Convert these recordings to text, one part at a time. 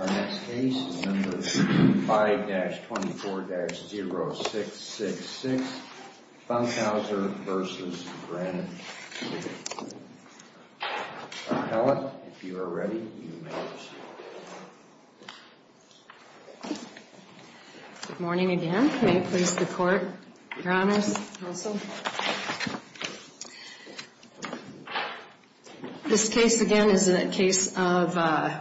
Our next case is number 5-24-0666, Bunkhouser v. Granite City Appellant, if you are ready, you may proceed. Good morning again. May it please the Court, Your Honors, Counsel. This case, again, is a case of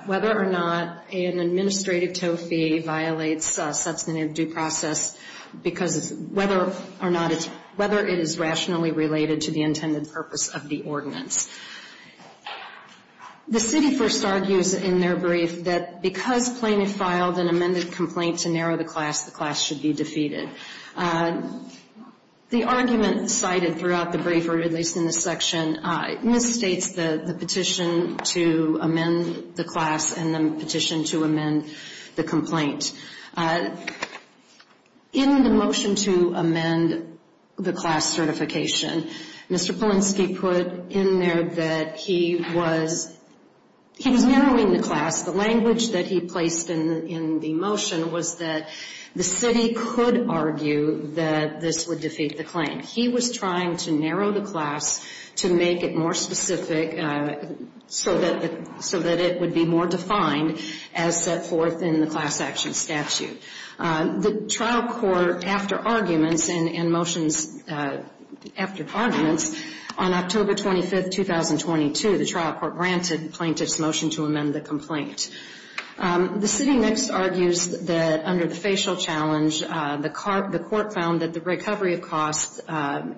whether or not an administrative toe fee violates substantive due process whether it is rationally related to the intended purpose of the ordinance. The City first argues in their brief that because plaintiff filed an amended complaint to narrow the class, the class should be defeated. The argument cited throughout the brief, or at least in this section, misstates the petition to amend the class and the petition to amend the complaint. In the motion to amend the class certification, Mr. Polinsky put in there that he was narrowing the class. The language that he placed in the motion was that the City could argue that this would defeat the claim. He was trying to narrow the class to make it more specific so that it would be more defined as set forth in the class action statute. The trial court, after arguments and motions after arguments, on October 25, 2022, the trial court granted plaintiff's motion to amend the complaint. The City next argues that under the facial challenge, the court found that the recovery of costs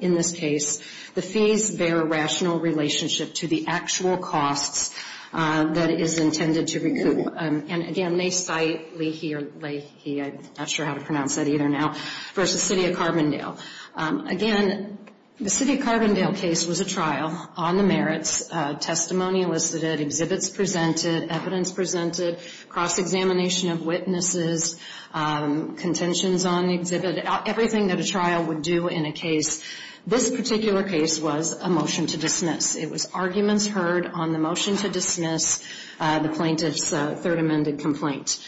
in this case, the fees bear a rational relationship to the actual costs that is intended to recoup. And again, they cite Leahy, I'm not sure how to pronounce that either now, versus City of Carbondale. Again, the City of Carbondale case was a trial on the merits, testimony elicited, exhibits presented, evidence presented, cross-examination of witnesses, contentions on the exhibit, everything that a trial would do in a case. This particular case was a motion to dismiss. It was arguments heard on the motion to dismiss the plaintiff's third amended complaint.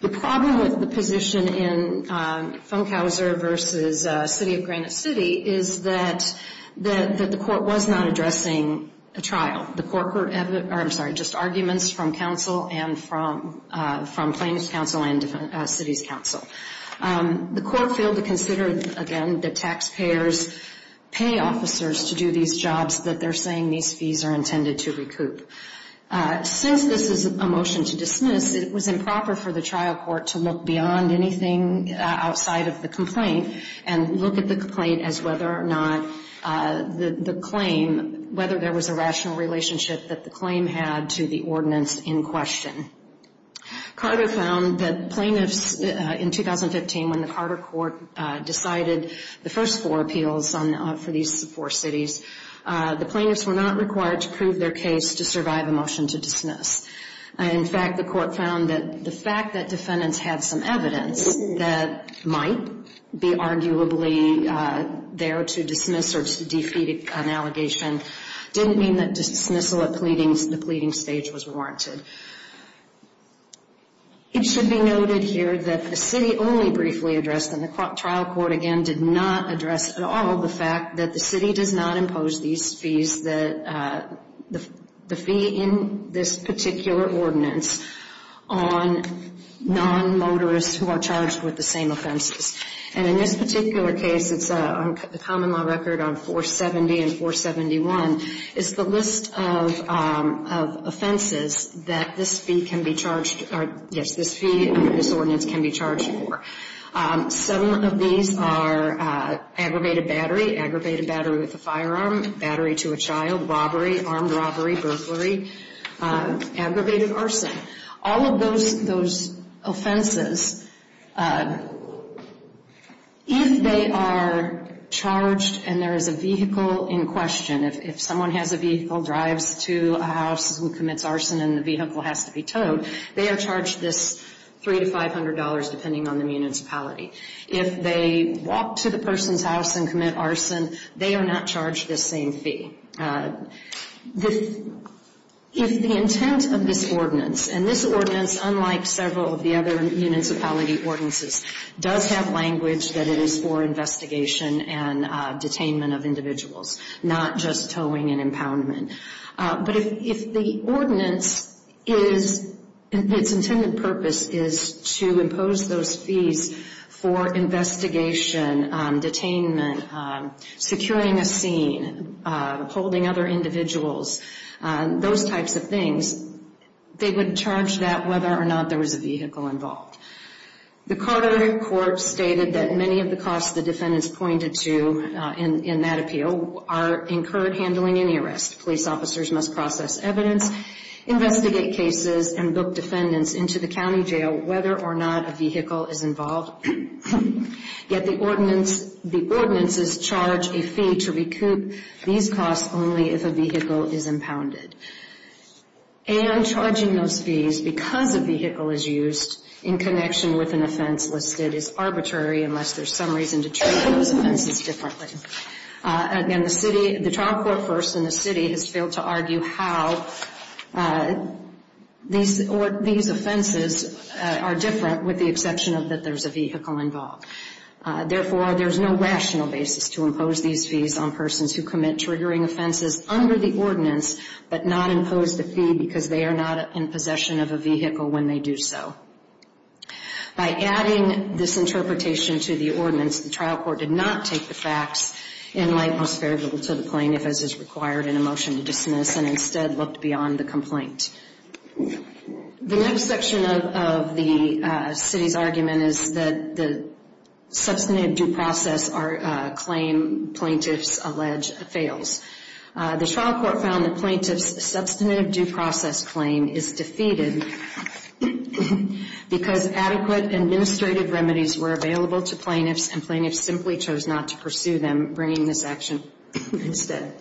The problem with the position in Funkhauser versus City of Granite City is that the court was not addressing a trial. The court heard, I'm sorry, just arguments from counsel and from plaintiff's counsel and City's counsel. The court failed to consider, again, that taxpayers pay officers to do these jobs that they're saying these fees are intended to recoup. Since this is a motion to dismiss, it was improper for the trial court to look beyond anything outside of the complaint and look at the complaint as whether or not the claim, whether there was a rational relationship that the claim had to the ordinance in question. Carter found that plaintiffs, in 2015, when the Carter court decided the first four appeals for these four cities, the plaintiffs were not required to prove their case to survive a motion to dismiss. In fact, the court found that the fact that defendants had some evidence that might be arguably there to dismiss or defeat an allegation didn't mean that dismissal at the pleading stage was warranted. It should be noted here that the city only briefly addressed, and the trial court, again, did not address at all, the fact that the city does not impose these fees, the fee in this particular ordinance, on non-motorists who are charged with the same offenses. And in this particular case, it's a common law record on 470 and 471, it's the list of offenses that this fee can be charged for. Some of these are aggravated battery, aggravated battery with a firearm, battery to a child, robbery, armed robbery, burglary, aggravated arson, all of those offenses, if they are charged and there is a vehicle in question, if someone has a vehicle, drives to a house and commits arson and the vehicle has to be towed, they are charged this $300 to $500 depending on the municipality. If they walk to the person's house and commit arson, they are not charged this same fee. If the intent of this ordinance, and this ordinance, unlike several of the other municipality ordinances, does have language that it is for investigation and detainment of individuals, not just towing and impoundment. But if the ordinance is, its intended purpose is to impose those fees for investigation, detainment, securing a scene, holding other individuals, those types of things, they would charge that whether or not there was a vehicle involved. The Carter Court stated that many of the costs the defendants pointed to in that appeal are incurred handling any arrest. Police officers must process evidence, investigate cases, and book defendants into the county jail whether or not a vehicle is involved. Yet the ordinances charge a fee to recoup these costs only if a vehicle is impounded. And charging those fees because a vehicle is used in connection with an offense listed is arbitrary unless there is some reason to treat those offenses differently. Again, the trial court first in the city has failed to argue how these offenses are different with the exception of that there is a vehicle involved. Therefore, there is no rational basis to impose these fees on persons who commit triggering offenses under the ordinance but not impose the fee because they are not in possession of a vehicle when they do so. By adding this interpretation to the ordinance, the trial court did not take the facts in light most favorable to the plaintiff as is required in a motion to dismiss and instead looked beyond the complaint. The next section of the city's argument is that the substantive due process claim plaintiffs allege fails. The trial court found the plaintiff's substantive due process claim is defeated because adequate administrative remedies were available to plaintiffs and plaintiffs simply chose not to pursue them bringing this action instead.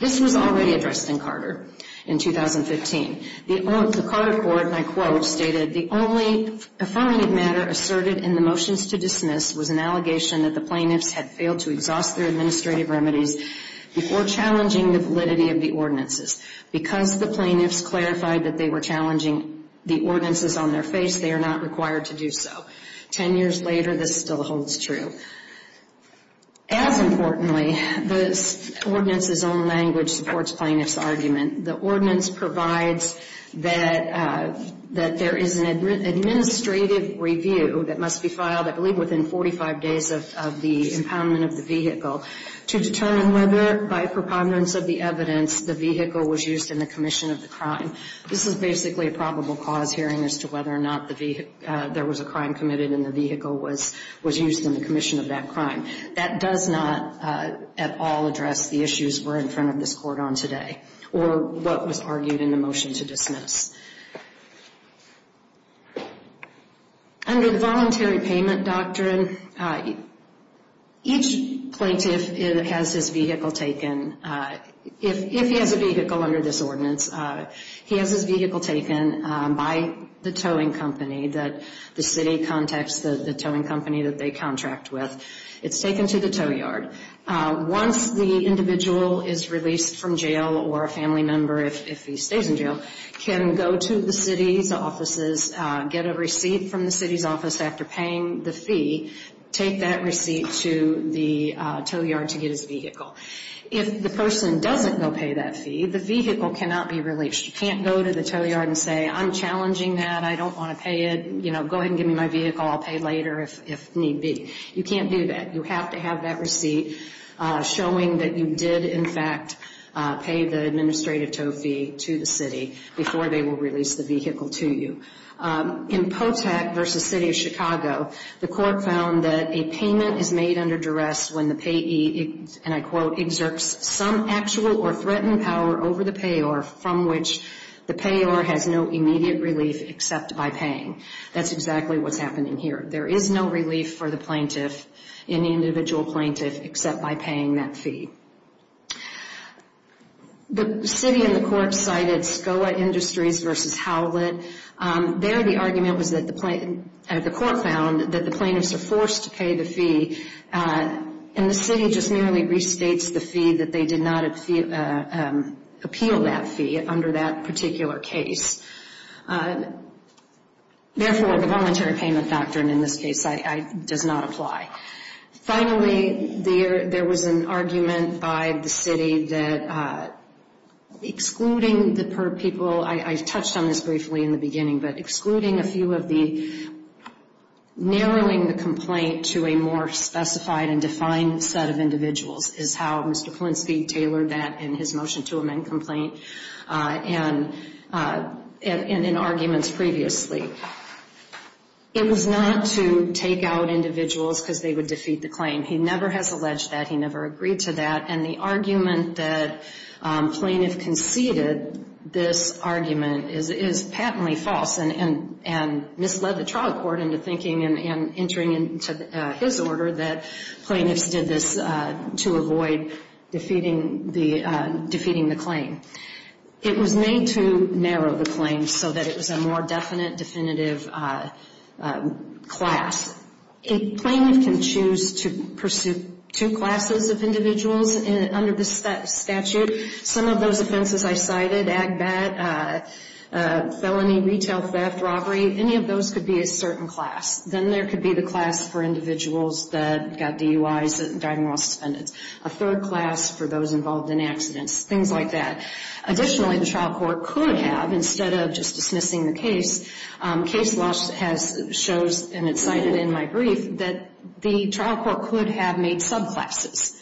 This was already addressed in Carter in 2015. The Carter court, and I quote, stated, The only affirmative matter asserted in the motions to dismiss was an allegation that the plaintiffs had failed to exhaust their administrative remedies before challenging the validity of the ordinances. Because the plaintiffs clarified that they were challenging the ordinances on their face, they are not required to do so. Ten years later, this still holds true. As importantly, this ordinance's own language supports plaintiffs' argument. The ordinance provides that there is an administrative review that must be filed, I believe, within 45 days of the impoundment of the vehicle to determine whether, by preponderance of the evidence, the vehicle was used in the commission of the crime. This is basically a probable cause hearing as to whether or not there was a crime committed and the vehicle was used in the commission of that crime. That does not at all address the issues we're in front of this court on today or what was argued in the motion to dismiss. Under the voluntary payment doctrine, each plaintiff has his vehicle taken. If he has a vehicle under this ordinance, he has his vehicle taken by the towing company that the city contacts the towing company that they contract with. It's taken to the tow yard. Once the individual is released from jail or a family member, if he stays in jail, can go to the city's offices, get a receipt from the city's office after paying the fee, take that receipt to the tow yard to get his vehicle. If the person doesn't go pay that fee, the vehicle cannot be released. You can't go to the tow yard and say, I'm challenging that. I don't want to pay it. You know, go ahead and give me my vehicle. I'll pay later if need be. You can't do that. You have to have that receipt showing that you did, in fact, pay the administrative tow fee to the city before they will release the vehicle to you. In POTAC v. City of Chicago, the court found that a payment is made under duress when the payee, and I quote, exerts some actual or threatened power over the payor from which the payor has no immediate relief except by paying. That's exactly what's happening here. There is no relief for the plaintiff, any individual plaintiff, except by paying that fee. The city and the court cited SCOA Industries v. Howlett. There the argument was that the court found that the plaintiffs are forced to pay the fee, and the city just merely restates the fee that they did not appeal that fee under that particular case. Therefore, the voluntary payment doctrine in this case does not apply. Finally, there was an argument by the city that excluding the per people, I touched on this briefly in the beginning, but excluding a few of the, narrowing the complaint to a more specified and defined set of individuals is how Mr. previously. It was not to take out individuals because they would defeat the claim. He never has alleged that. He never agreed to that, and the argument that plaintiff conceded this argument is patently false and misled the trial court into thinking and entering into his order that plaintiffs did this to avoid defeating the claim. It was made to narrow the claim so that it was a more definite, definitive class. A plaintiff can choose to pursue two classes of individuals under the statute. Some of those offenses I cited, agbat, felony, retail theft, robbery, any of those could be a certain class. Then there could be the class for individuals that got DUIs and died in moral suspense. A third class for those involved in accidents. Things like that. Additionally, the trial court could have, instead of just dismissing the case, case law shows, and it's cited in my brief, that the trial court could have made subclasses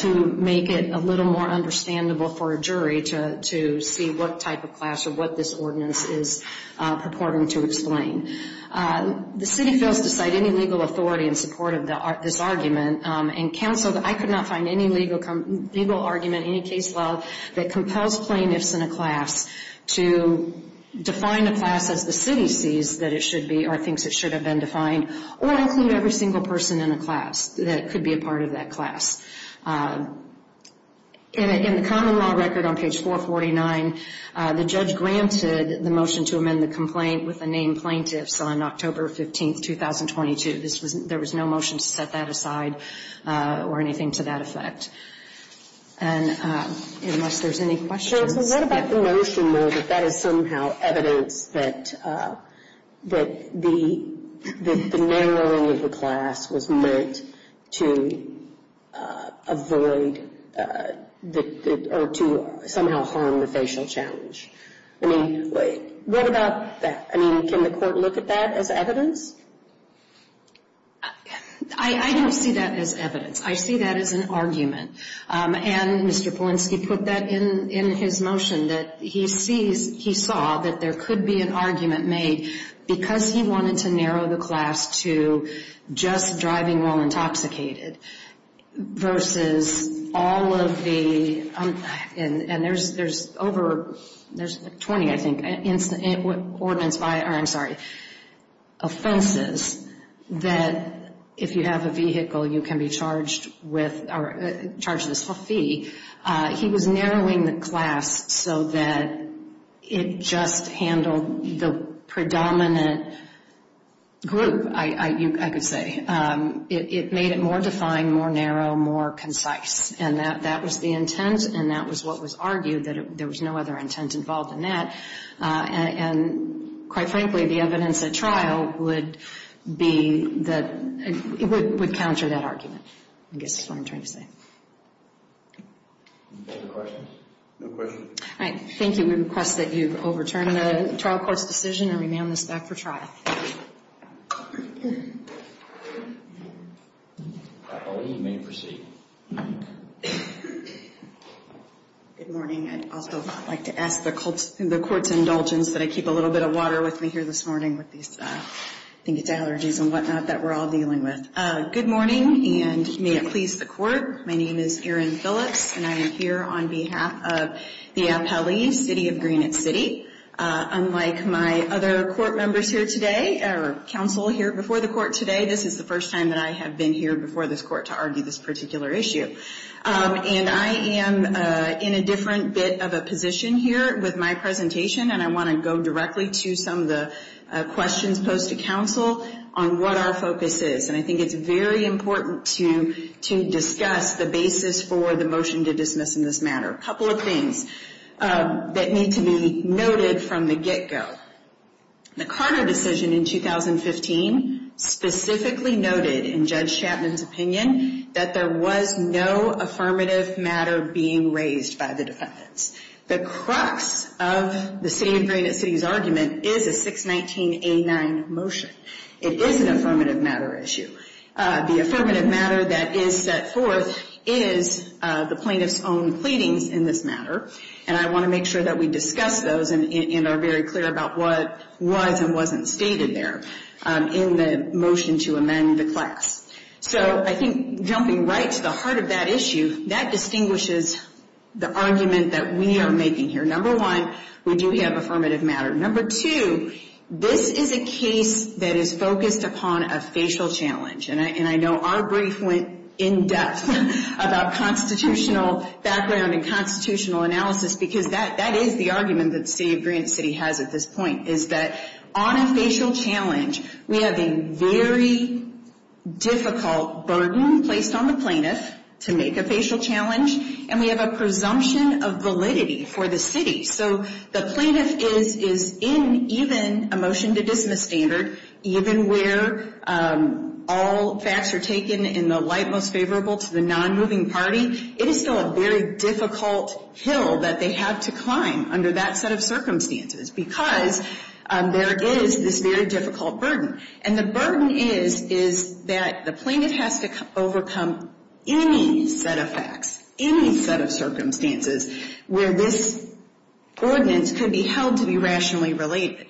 to make it a little more understandable for a jury to see what type of class or what this ordinance is purporting to explain. The city fails to cite any legal authority in support of this argument, and counsel that I could not find any legal argument, any case law that compels plaintiffs in a class to define a class as the city sees that it should be or thinks it should have been defined or include every single person in a class that could be a part of that class. In the common law record on page 449, the judge granted the motion to amend the complaint with the name plaintiffs on October 15, 2022. There was no motion to set that aside or anything to that effect. And unless there's any questions. What about the motion that that is somehow evidence that the narrowing of the class was meant to avoid or to somehow harm the facial challenge? I mean, what about that? I mean, can the court look at that as evidence? I don't see that as evidence. I see that as an argument. And Mr. Polinsky put that in his motion that he sees, he saw that there could be an argument made because he wanted to narrow the class to just driving while intoxicated versus all of the, and there's over, there's 20 I think, ordinance by, or I'm sorry, offenses that if you have a vehicle you can be charged with or charged this fee. He was narrowing the class so that it just handled the predominant group, I could say. It made it more defined, more narrow, more concise. And that was the intent and that was what was argued, that there was no other intent involved in that. And quite frankly, the evidence at trial would be that, it would counter that argument, I guess is what I'm trying to say. Any further questions? No questions. All right. Thank you. We request that you overturn the trial court's decision and remand this back for trial. Here. Appellee, you may proceed. Good morning. I'd also like to ask the court's indulgence that I keep a little bit of water with me here this morning with these, I think it's allergies and whatnot that we're all dealing with. Good morning, and may it please the court. My name is Erin Phillips, and I am here on behalf of the appellee, City of Greenwich City. Unlike my other court members here today, or counsel here before the court today, this is the first time that I have been here before this court to argue this particular issue. And I am in a different bit of a position here with my presentation, and I want to go directly to some of the questions posed to counsel on what our focus is. And I think it's very important to discuss the basis for the motion to dismiss in this matter. A couple of things that need to be noted from the get-go. The Carter decision in 2015 specifically noted, in Judge Chapman's opinion, that there was no affirmative matter being raised by the defendants. The crux of the City of Greenwich City's argument is a 619A9 motion. It is an affirmative matter issue. The affirmative matter that is set forth is the plaintiff's own pleadings in this matter, and I want to make sure that we discuss those and are very clear about what was and wasn't stated there in the motion to amend the class. So I think jumping right to the heart of that issue, that distinguishes the argument that we are making here. Number one, we do have affirmative matter. Number two, this is a case that is focused upon a facial challenge, and I know our brief went in-depth about constitutional background and constitutional analysis because that is the argument that the City of Greenwich City has at this point, is that on a facial challenge, we have a very difficult burden placed on the plaintiff to make a facial challenge, and we have a presumption of validity for the city. So the plaintiff is in even a motion to dismiss standard, even where all facts are taken in the light most favorable to the non-moving party. It is still a very difficult hill that they have to climb under that set of circumstances because there is this very difficult burden, and the burden is that the plaintiff has to overcome any set of facts, any set of circumstances where this ordinance could be held to be rationally related.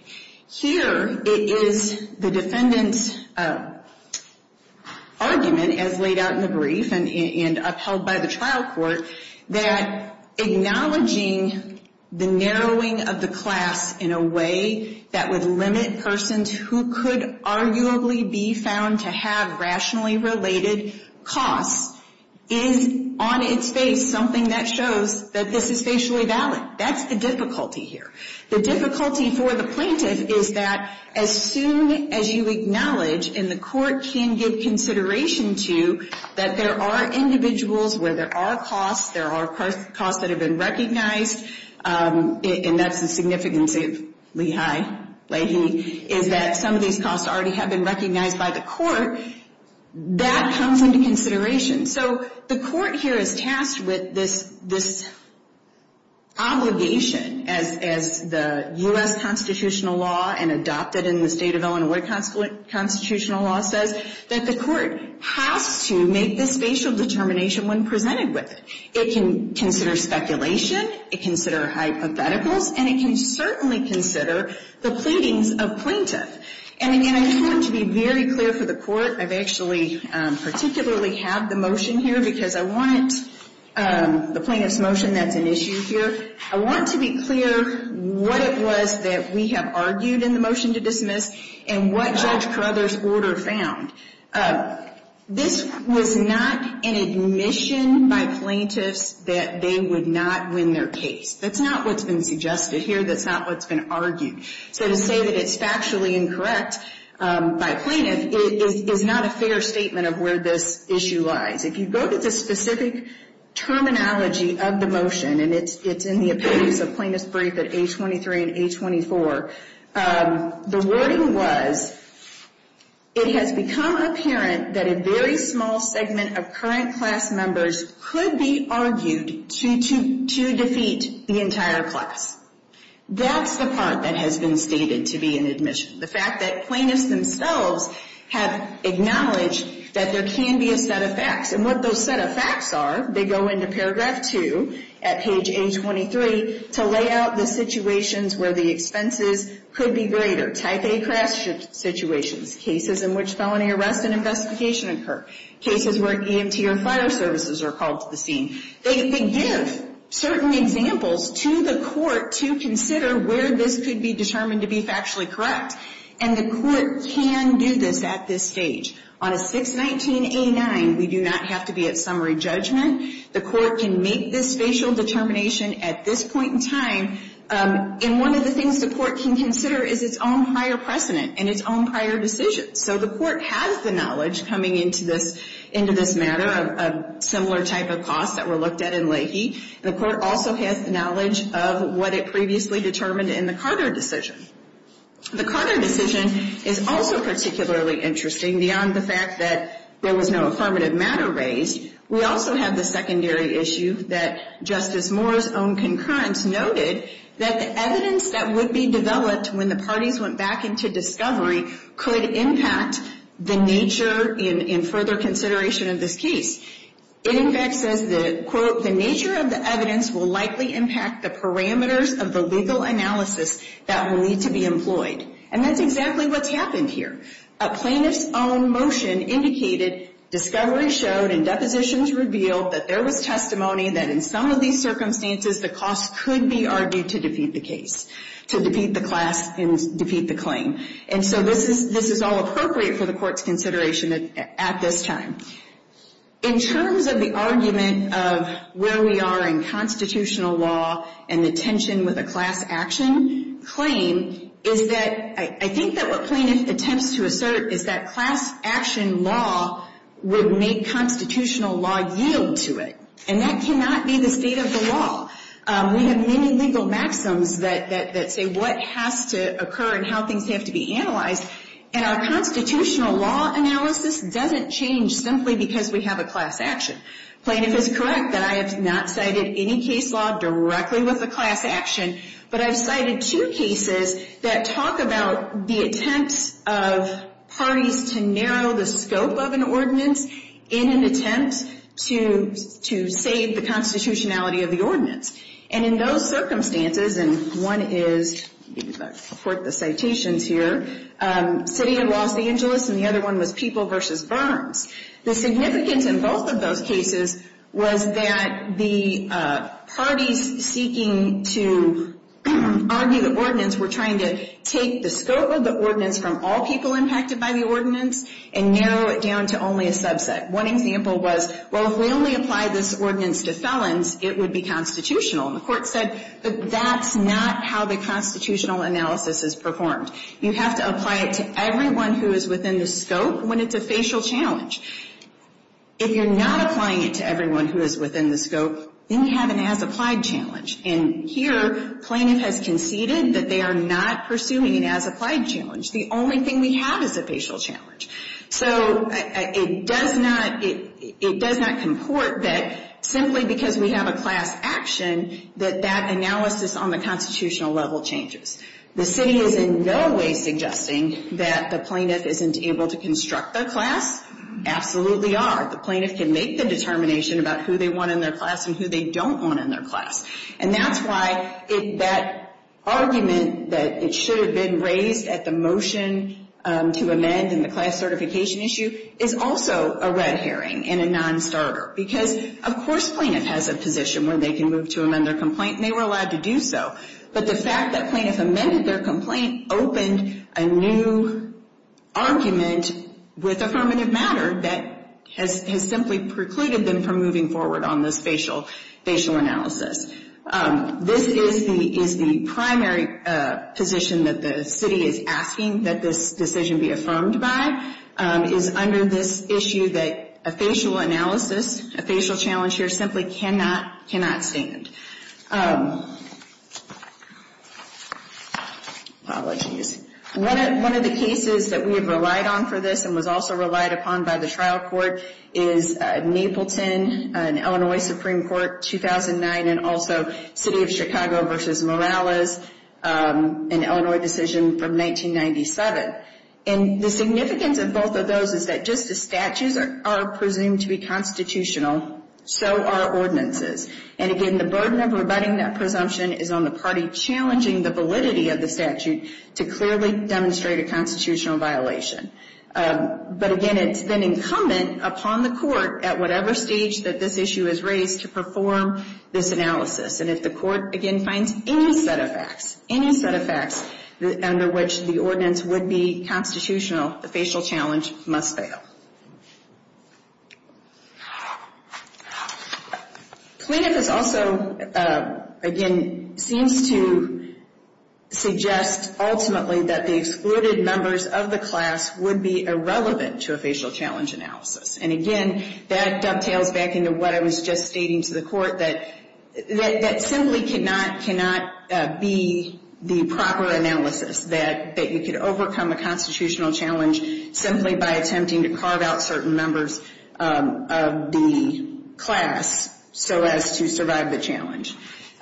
Here it is the defendant's argument, as laid out in the brief and upheld by the trial court, that acknowledging the narrowing of the class in a way that would limit persons who could arguably be found to have rationally related costs is, on its face, something that shows that this is facially valid. That's the difficulty here. The difficulty for the plaintiff is that as soon as you acknowledge, and the court can give consideration to, that there are individuals where there are costs, there are costs that have been recognized, and that's the significance of Lehi, Leahy, is that some of these costs already have been recognized by the court. That comes into consideration. So the court here is tasked with this obligation, as the U.S. constitutional law and adopted in the state of Illinois constitutional law says, that the court has to make this facial determination when presented with it. It can consider speculation, it can consider hypotheticals, and it can certainly consider the pleadings of plaintiff. And, again, I want to be very clear for the court. I've actually particularly have the motion here because I want the plaintiff's motion, that's an issue here. I want to be clear what it was that we have argued in the motion to dismiss and what Judge Carruthers' order found. This was not an admission by plaintiffs that they would not win their case. That's not what's been suggested here. That's not what's been argued. So to say that it's factually incorrect by plaintiff is not a fair statement of where this issue lies. If you go to the specific terminology of the motion, and it's in the opinions of plaintiff's brief at A23 and A24, the wording was, it has become apparent that a very small segment of current class members could be argued to defeat the entire class. That's the part that has been stated to be an admission, the fact that plaintiffs themselves have acknowledged that there can be a set of facts. And what those set of facts are, they go into paragraph 2 at page A23 to lay out the situations where the expenses could be greater, type A crash situations, cases in which felony arrest and investigation occur, cases where EMT or fire services are called to the scene. They give certain examples to the court to consider where this could be determined to be factually correct. And the court can do this at this stage. On a 619A9, we do not have to be at summary judgment. The court can make this facial determination at this point in time. And one of the things the court can consider is its own prior precedent and its own prior decisions. So the court has the knowledge coming into this matter of similar type of costs that were looked at in Leahy. The court also has the knowledge of what it previously determined in the Carter decision. The Carter decision is also particularly interesting beyond the fact that there was no affirmative matter raised. We also have the secondary issue that Justice Moore's own concurrence noted that the evidence that would be developed when the parties went back into discovery could impact the nature in further consideration of this case. It in fact says that, quote, the nature of the evidence will likely impact the parameters of the legal analysis that will need to be employed. And that's exactly what's happened here. A plaintiff's own motion indicated discovery showed and depositions revealed that there was testimony that in some of these circumstances the costs could be argued to defeat the case, to defeat the class and defeat the claim. And so this is all appropriate for the court's consideration at this time. In terms of the argument of where we are in constitutional law and the tension with a class action claim, is that I think that what plaintiff attempts to assert is that class action law would make constitutional law yield to it. And that cannot be the state of the law. We have many legal maxims that say what has to occur and how things have to be analyzed. And our constitutional law analysis doesn't change simply because we have a class action. Plaintiff is correct that I have not cited any case law directly with a class action, but I've cited two cases that talk about the attempts of parties to narrow the scope of an ordinance in an attempt to save the constitutionality of the ordinance. And in those circumstances, and one is, I'll quote the citations here, City of Los Angeles and the other one was People v. Burns. The significance in both of those cases was that the parties seeking to argue the ordinance were trying to take the scope of the ordinance from all people impacted by the ordinance and narrow it down to only a subset. One example was, well, if we only apply this ordinance to felons, it would be constitutional. And the Court said that that's not how the constitutional analysis is performed. You have to apply it to everyone who is within the scope when it's a facial challenge. If you're not applying it to everyone who is within the scope, then you have an as-applied challenge. And here, plaintiff has conceded that they are not pursuing an as-applied challenge. The only thing we have is a facial challenge. So it does not comport that simply because we have a class action that that analysis on the constitutional level changes. The city is in no way suggesting that the plaintiff isn't able to construct their class. Absolutely are. The plaintiff can make the determination about who they want in their class and who they don't want in their class. And that's why that argument that it should have been raised at the motion to amend in the class certification issue is also a red herring and a non-starter. Because, of course, plaintiff has a position where they can move to amend their complaint, and they were allowed to do so. But the fact that plaintiff amended their complaint opened a new argument with affirmative matter that has simply precluded them from moving forward on this facial analysis. This is the primary position that the city is asking that this decision be affirmed by, is under this issue that a facial analysis, a facial challenge here simply cannot stand. Apologies. One of the cases that we have relied on for this and was also relied upon by the trial court is Napleton, an Illinois Supreme Court, 2009, and also City of Chicago v. Morales, an Illinois decision from 1997. And the significance of both of those is that just as statutes are presumed to be constitutional, so are ordinances. And, again, the burden of rebutting that presumption is on the party challenging the validity of the statute to clearly demonstrate a constitutional violation. But, again, it's then incumbent upon the court at whatever stage that this issue is raised to perform this analysis. And if the court, again, finds any set of facts, any set of facts, under which the ordinance would be constitutional, the facial challenge must fail. Cleanup is also, again, seems to suggest ultimately that the excluded members of the class would be irrelevant to a facial challenge analysis. And, again, that dovetails back into what I was just stating to the court, that that simply cannot be the proper analysis, that you could overcome a constitutional challenge simply by attempting to carve out certain members of the class so as to survive the challenge.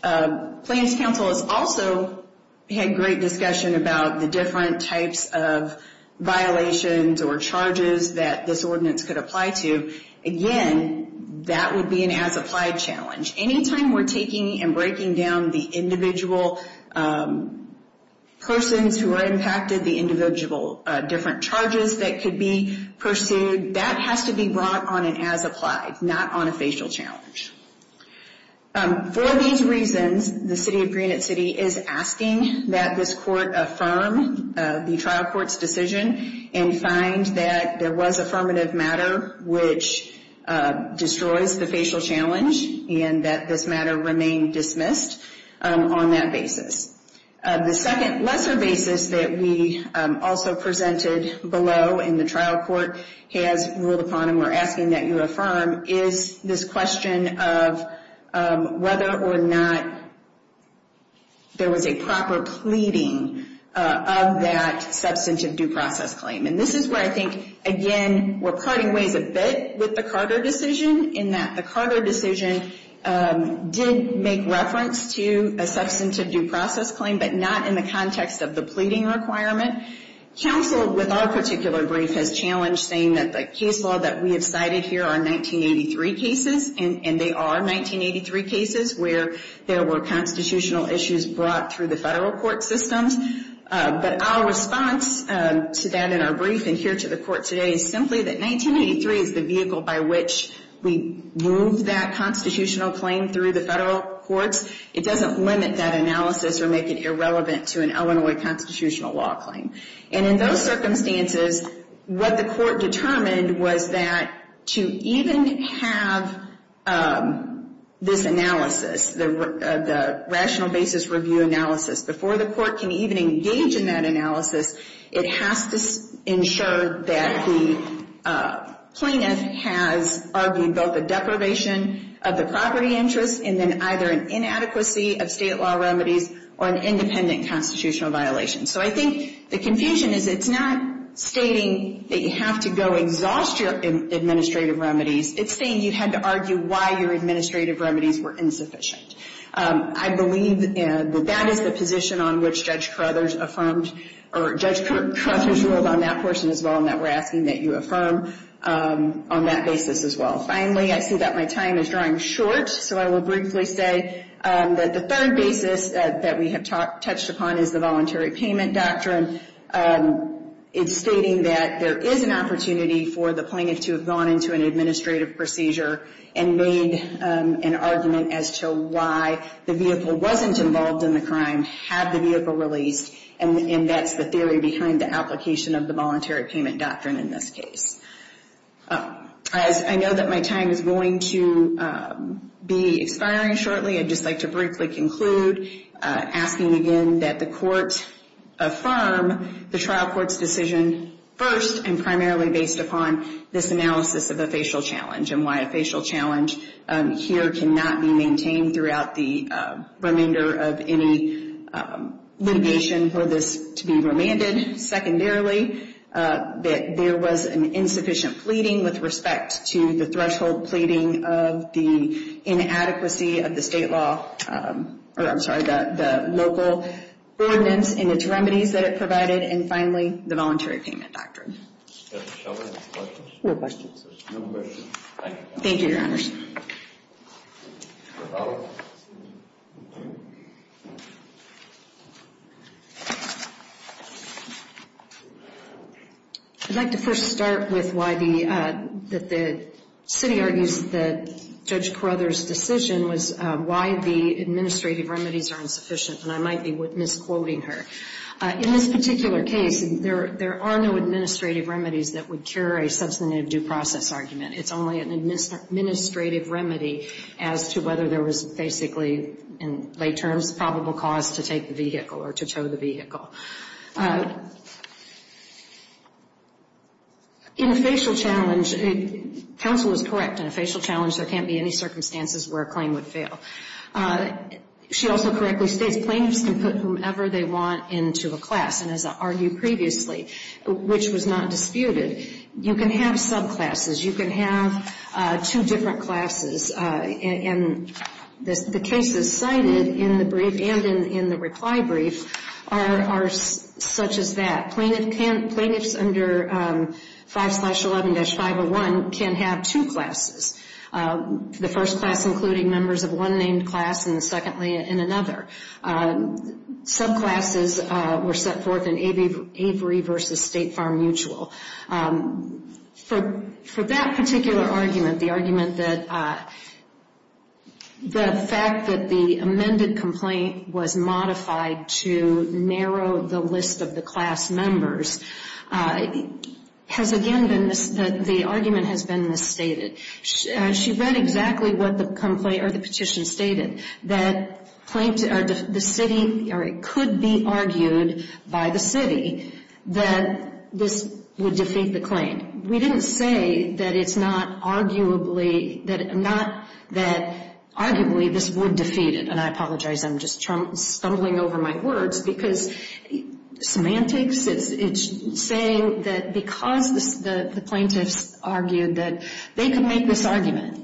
Plains counsel has also had great discussion about the different types of violations or charges that this ordinance could apply to. Again, that would be an as-applied challenge. Anytime we're taking and breaking down the individual persons who are impacted, the individual different charges that could be pursued, that has to be brought on an as-applied, not on a facial challenge. For these reasons, the city of Greenwich City is asking that this court affirm the trial court's decision and find that there was affirmative matter which destroys the facial challenge and that this matter remain dismissed on that basis. The second lesser basis that we also presented below in the trial court has ruled upon and we're asking that you affirm is this question of whether or not there was a proper pleading of that substantive due process claim. And this is where I think, again, we're parting ways a bit with the Carter decision in that the Carter decision did make reference to a substantive due process claim but not in the context of the pleading requirement. Counsel, with our particular brief, has challenged saying that the case law that we have cited here are 1983 cases, and they are 1983 cases where there were constitutional issues brought through the federal court systems. But our response to that in our brief and here to the court today is simply that 1983 is the vehicle by which we moved that constitutional claim through the federal courts. It doesn't limit that analysis or make it irrelevant to an Illinois constitutional law claim. And in those circumstances, what the court determined was that to even have this analysis, the rational basis review analysis before the court can even engage in that analysis, it has to ensure that the plaintiff has argued both a deprivation of the property interest and then either an inadequacy of state law remedies or an independent constitutional violation. So I think the confusion is it's not stating that you have to go exhaust your administrative remedies. It's saying you had to argue why your administrative remedies were insufficient. I believe that that is the position on which Judge Carothers affirmed or Judge Carothers ruled on that portion as well and that we're asking that you affirm on that basis as well. Finally, I see that my time is drawing short, so I will briefly say that the third basis that we have touched upon is the voluntary payment doctrine. It's stating that there is an opportunity for the plaintiff to have gone into an administrative procedure and made an argument as to why the vehicle wasn't involved in the crime, had the vehicle released, and that's the theory behind the application of the voluntary payment doctrine in this case. I know that my time is going to be expiring shortly. I'd just like to briefly conclude asking again that the court affirm the trial court's decision first and primarily based upon this analysis of a facial challenge and why a facial challenge here cannot be maintained throughout the remainder of any litigation for this to be remanded. Secondarily, that there was an insufficient pleading with respect to the threshold pleading of the inadequacy of the state law or, I'm sorry, the local ordinance and its remedies that it provided. And finally, the voluntary payment doctrine. No questions. Thank you, Your Honors. I'd like to first start with why the city argues that Judge Carruthers' decision was why the administrative remedies are insufficient, and I might be misquoting her. In this particular case, there are no administrative remedies that would cure a substantive due process argument. It's only an administrative remedy as to whether there was basically, in lay terms, probable cause to take the vehicle or to tow the vehicle. In a facial challenge, counsel was correct. In a facial challenge, there can't be any circumstances where a claim would fail. She also correctly states plaintiffs can put whomever they want into a class, and as I argued previously, which was not disputed. You can have subclasses. You can have two different classes. And the cases cited in the brief and in the reply brief are such as that. Plaintiffs under 5-11-501 can have two classes, the first class including members of one named class and secondly in another. Subclasses were set forth in Avery v. State Farm Mutual. For that particular argument, the argument that the fact that the amended complaint was modified to narrow the list of the class members, has again been, the argument has been misstated. She read exactly what the petition stated, that the city, or it could be argued by the city, that this would defeat the claim. We didn't say that it's not arguably, that arguably this would defeat it. And I apologize, I'm just stumbling over my words. Because semantics, it's saying that because the plaintiffs argued that they can make this argument,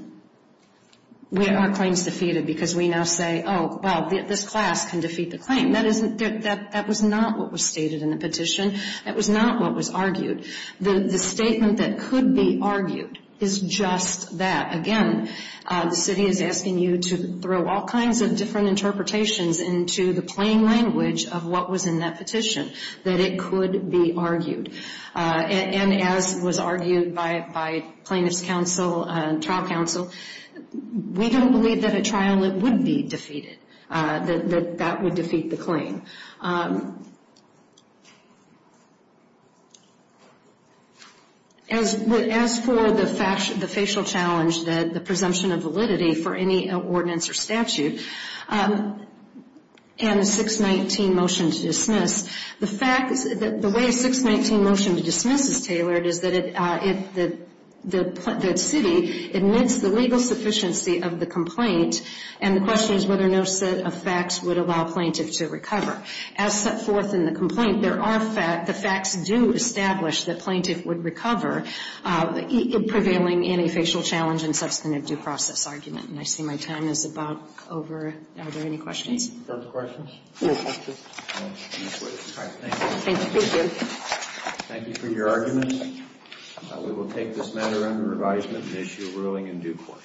our claim is defeated because we now say, oh, well, this class can defeat the claim. That was not what was stated in the petition. That was not what was argued. The statement that could be argued is just that. Again, the city is asking you to throw all kinds of different interpretations into the plain language of what was in that petition, that it could be argued. And as was argued by plaintiffs' counsel, trial counsel, we don't believe that a trial would be defeated, that that would defeat the claim. As for the facial challenge, the presumption of validity for any ordinance or statute, and the 619 motion to dismiss, the way 619 motion to dismiss is tailored is that the city admits the legal sufficiency of the complaint, and the question is whether no set of facts would allow plaintiff to recover. As set forth in the complaint, there are facts, the facts do establish that plaintiff would recover, prevailing in a facial challenge and substantive due process argument. And I see my time is about over. Are there any questions? Are there questions? No questions. All right. Thank you. Thank you. Thank you for your arguments. We will take this matter under advisement and issue a ruling in due course.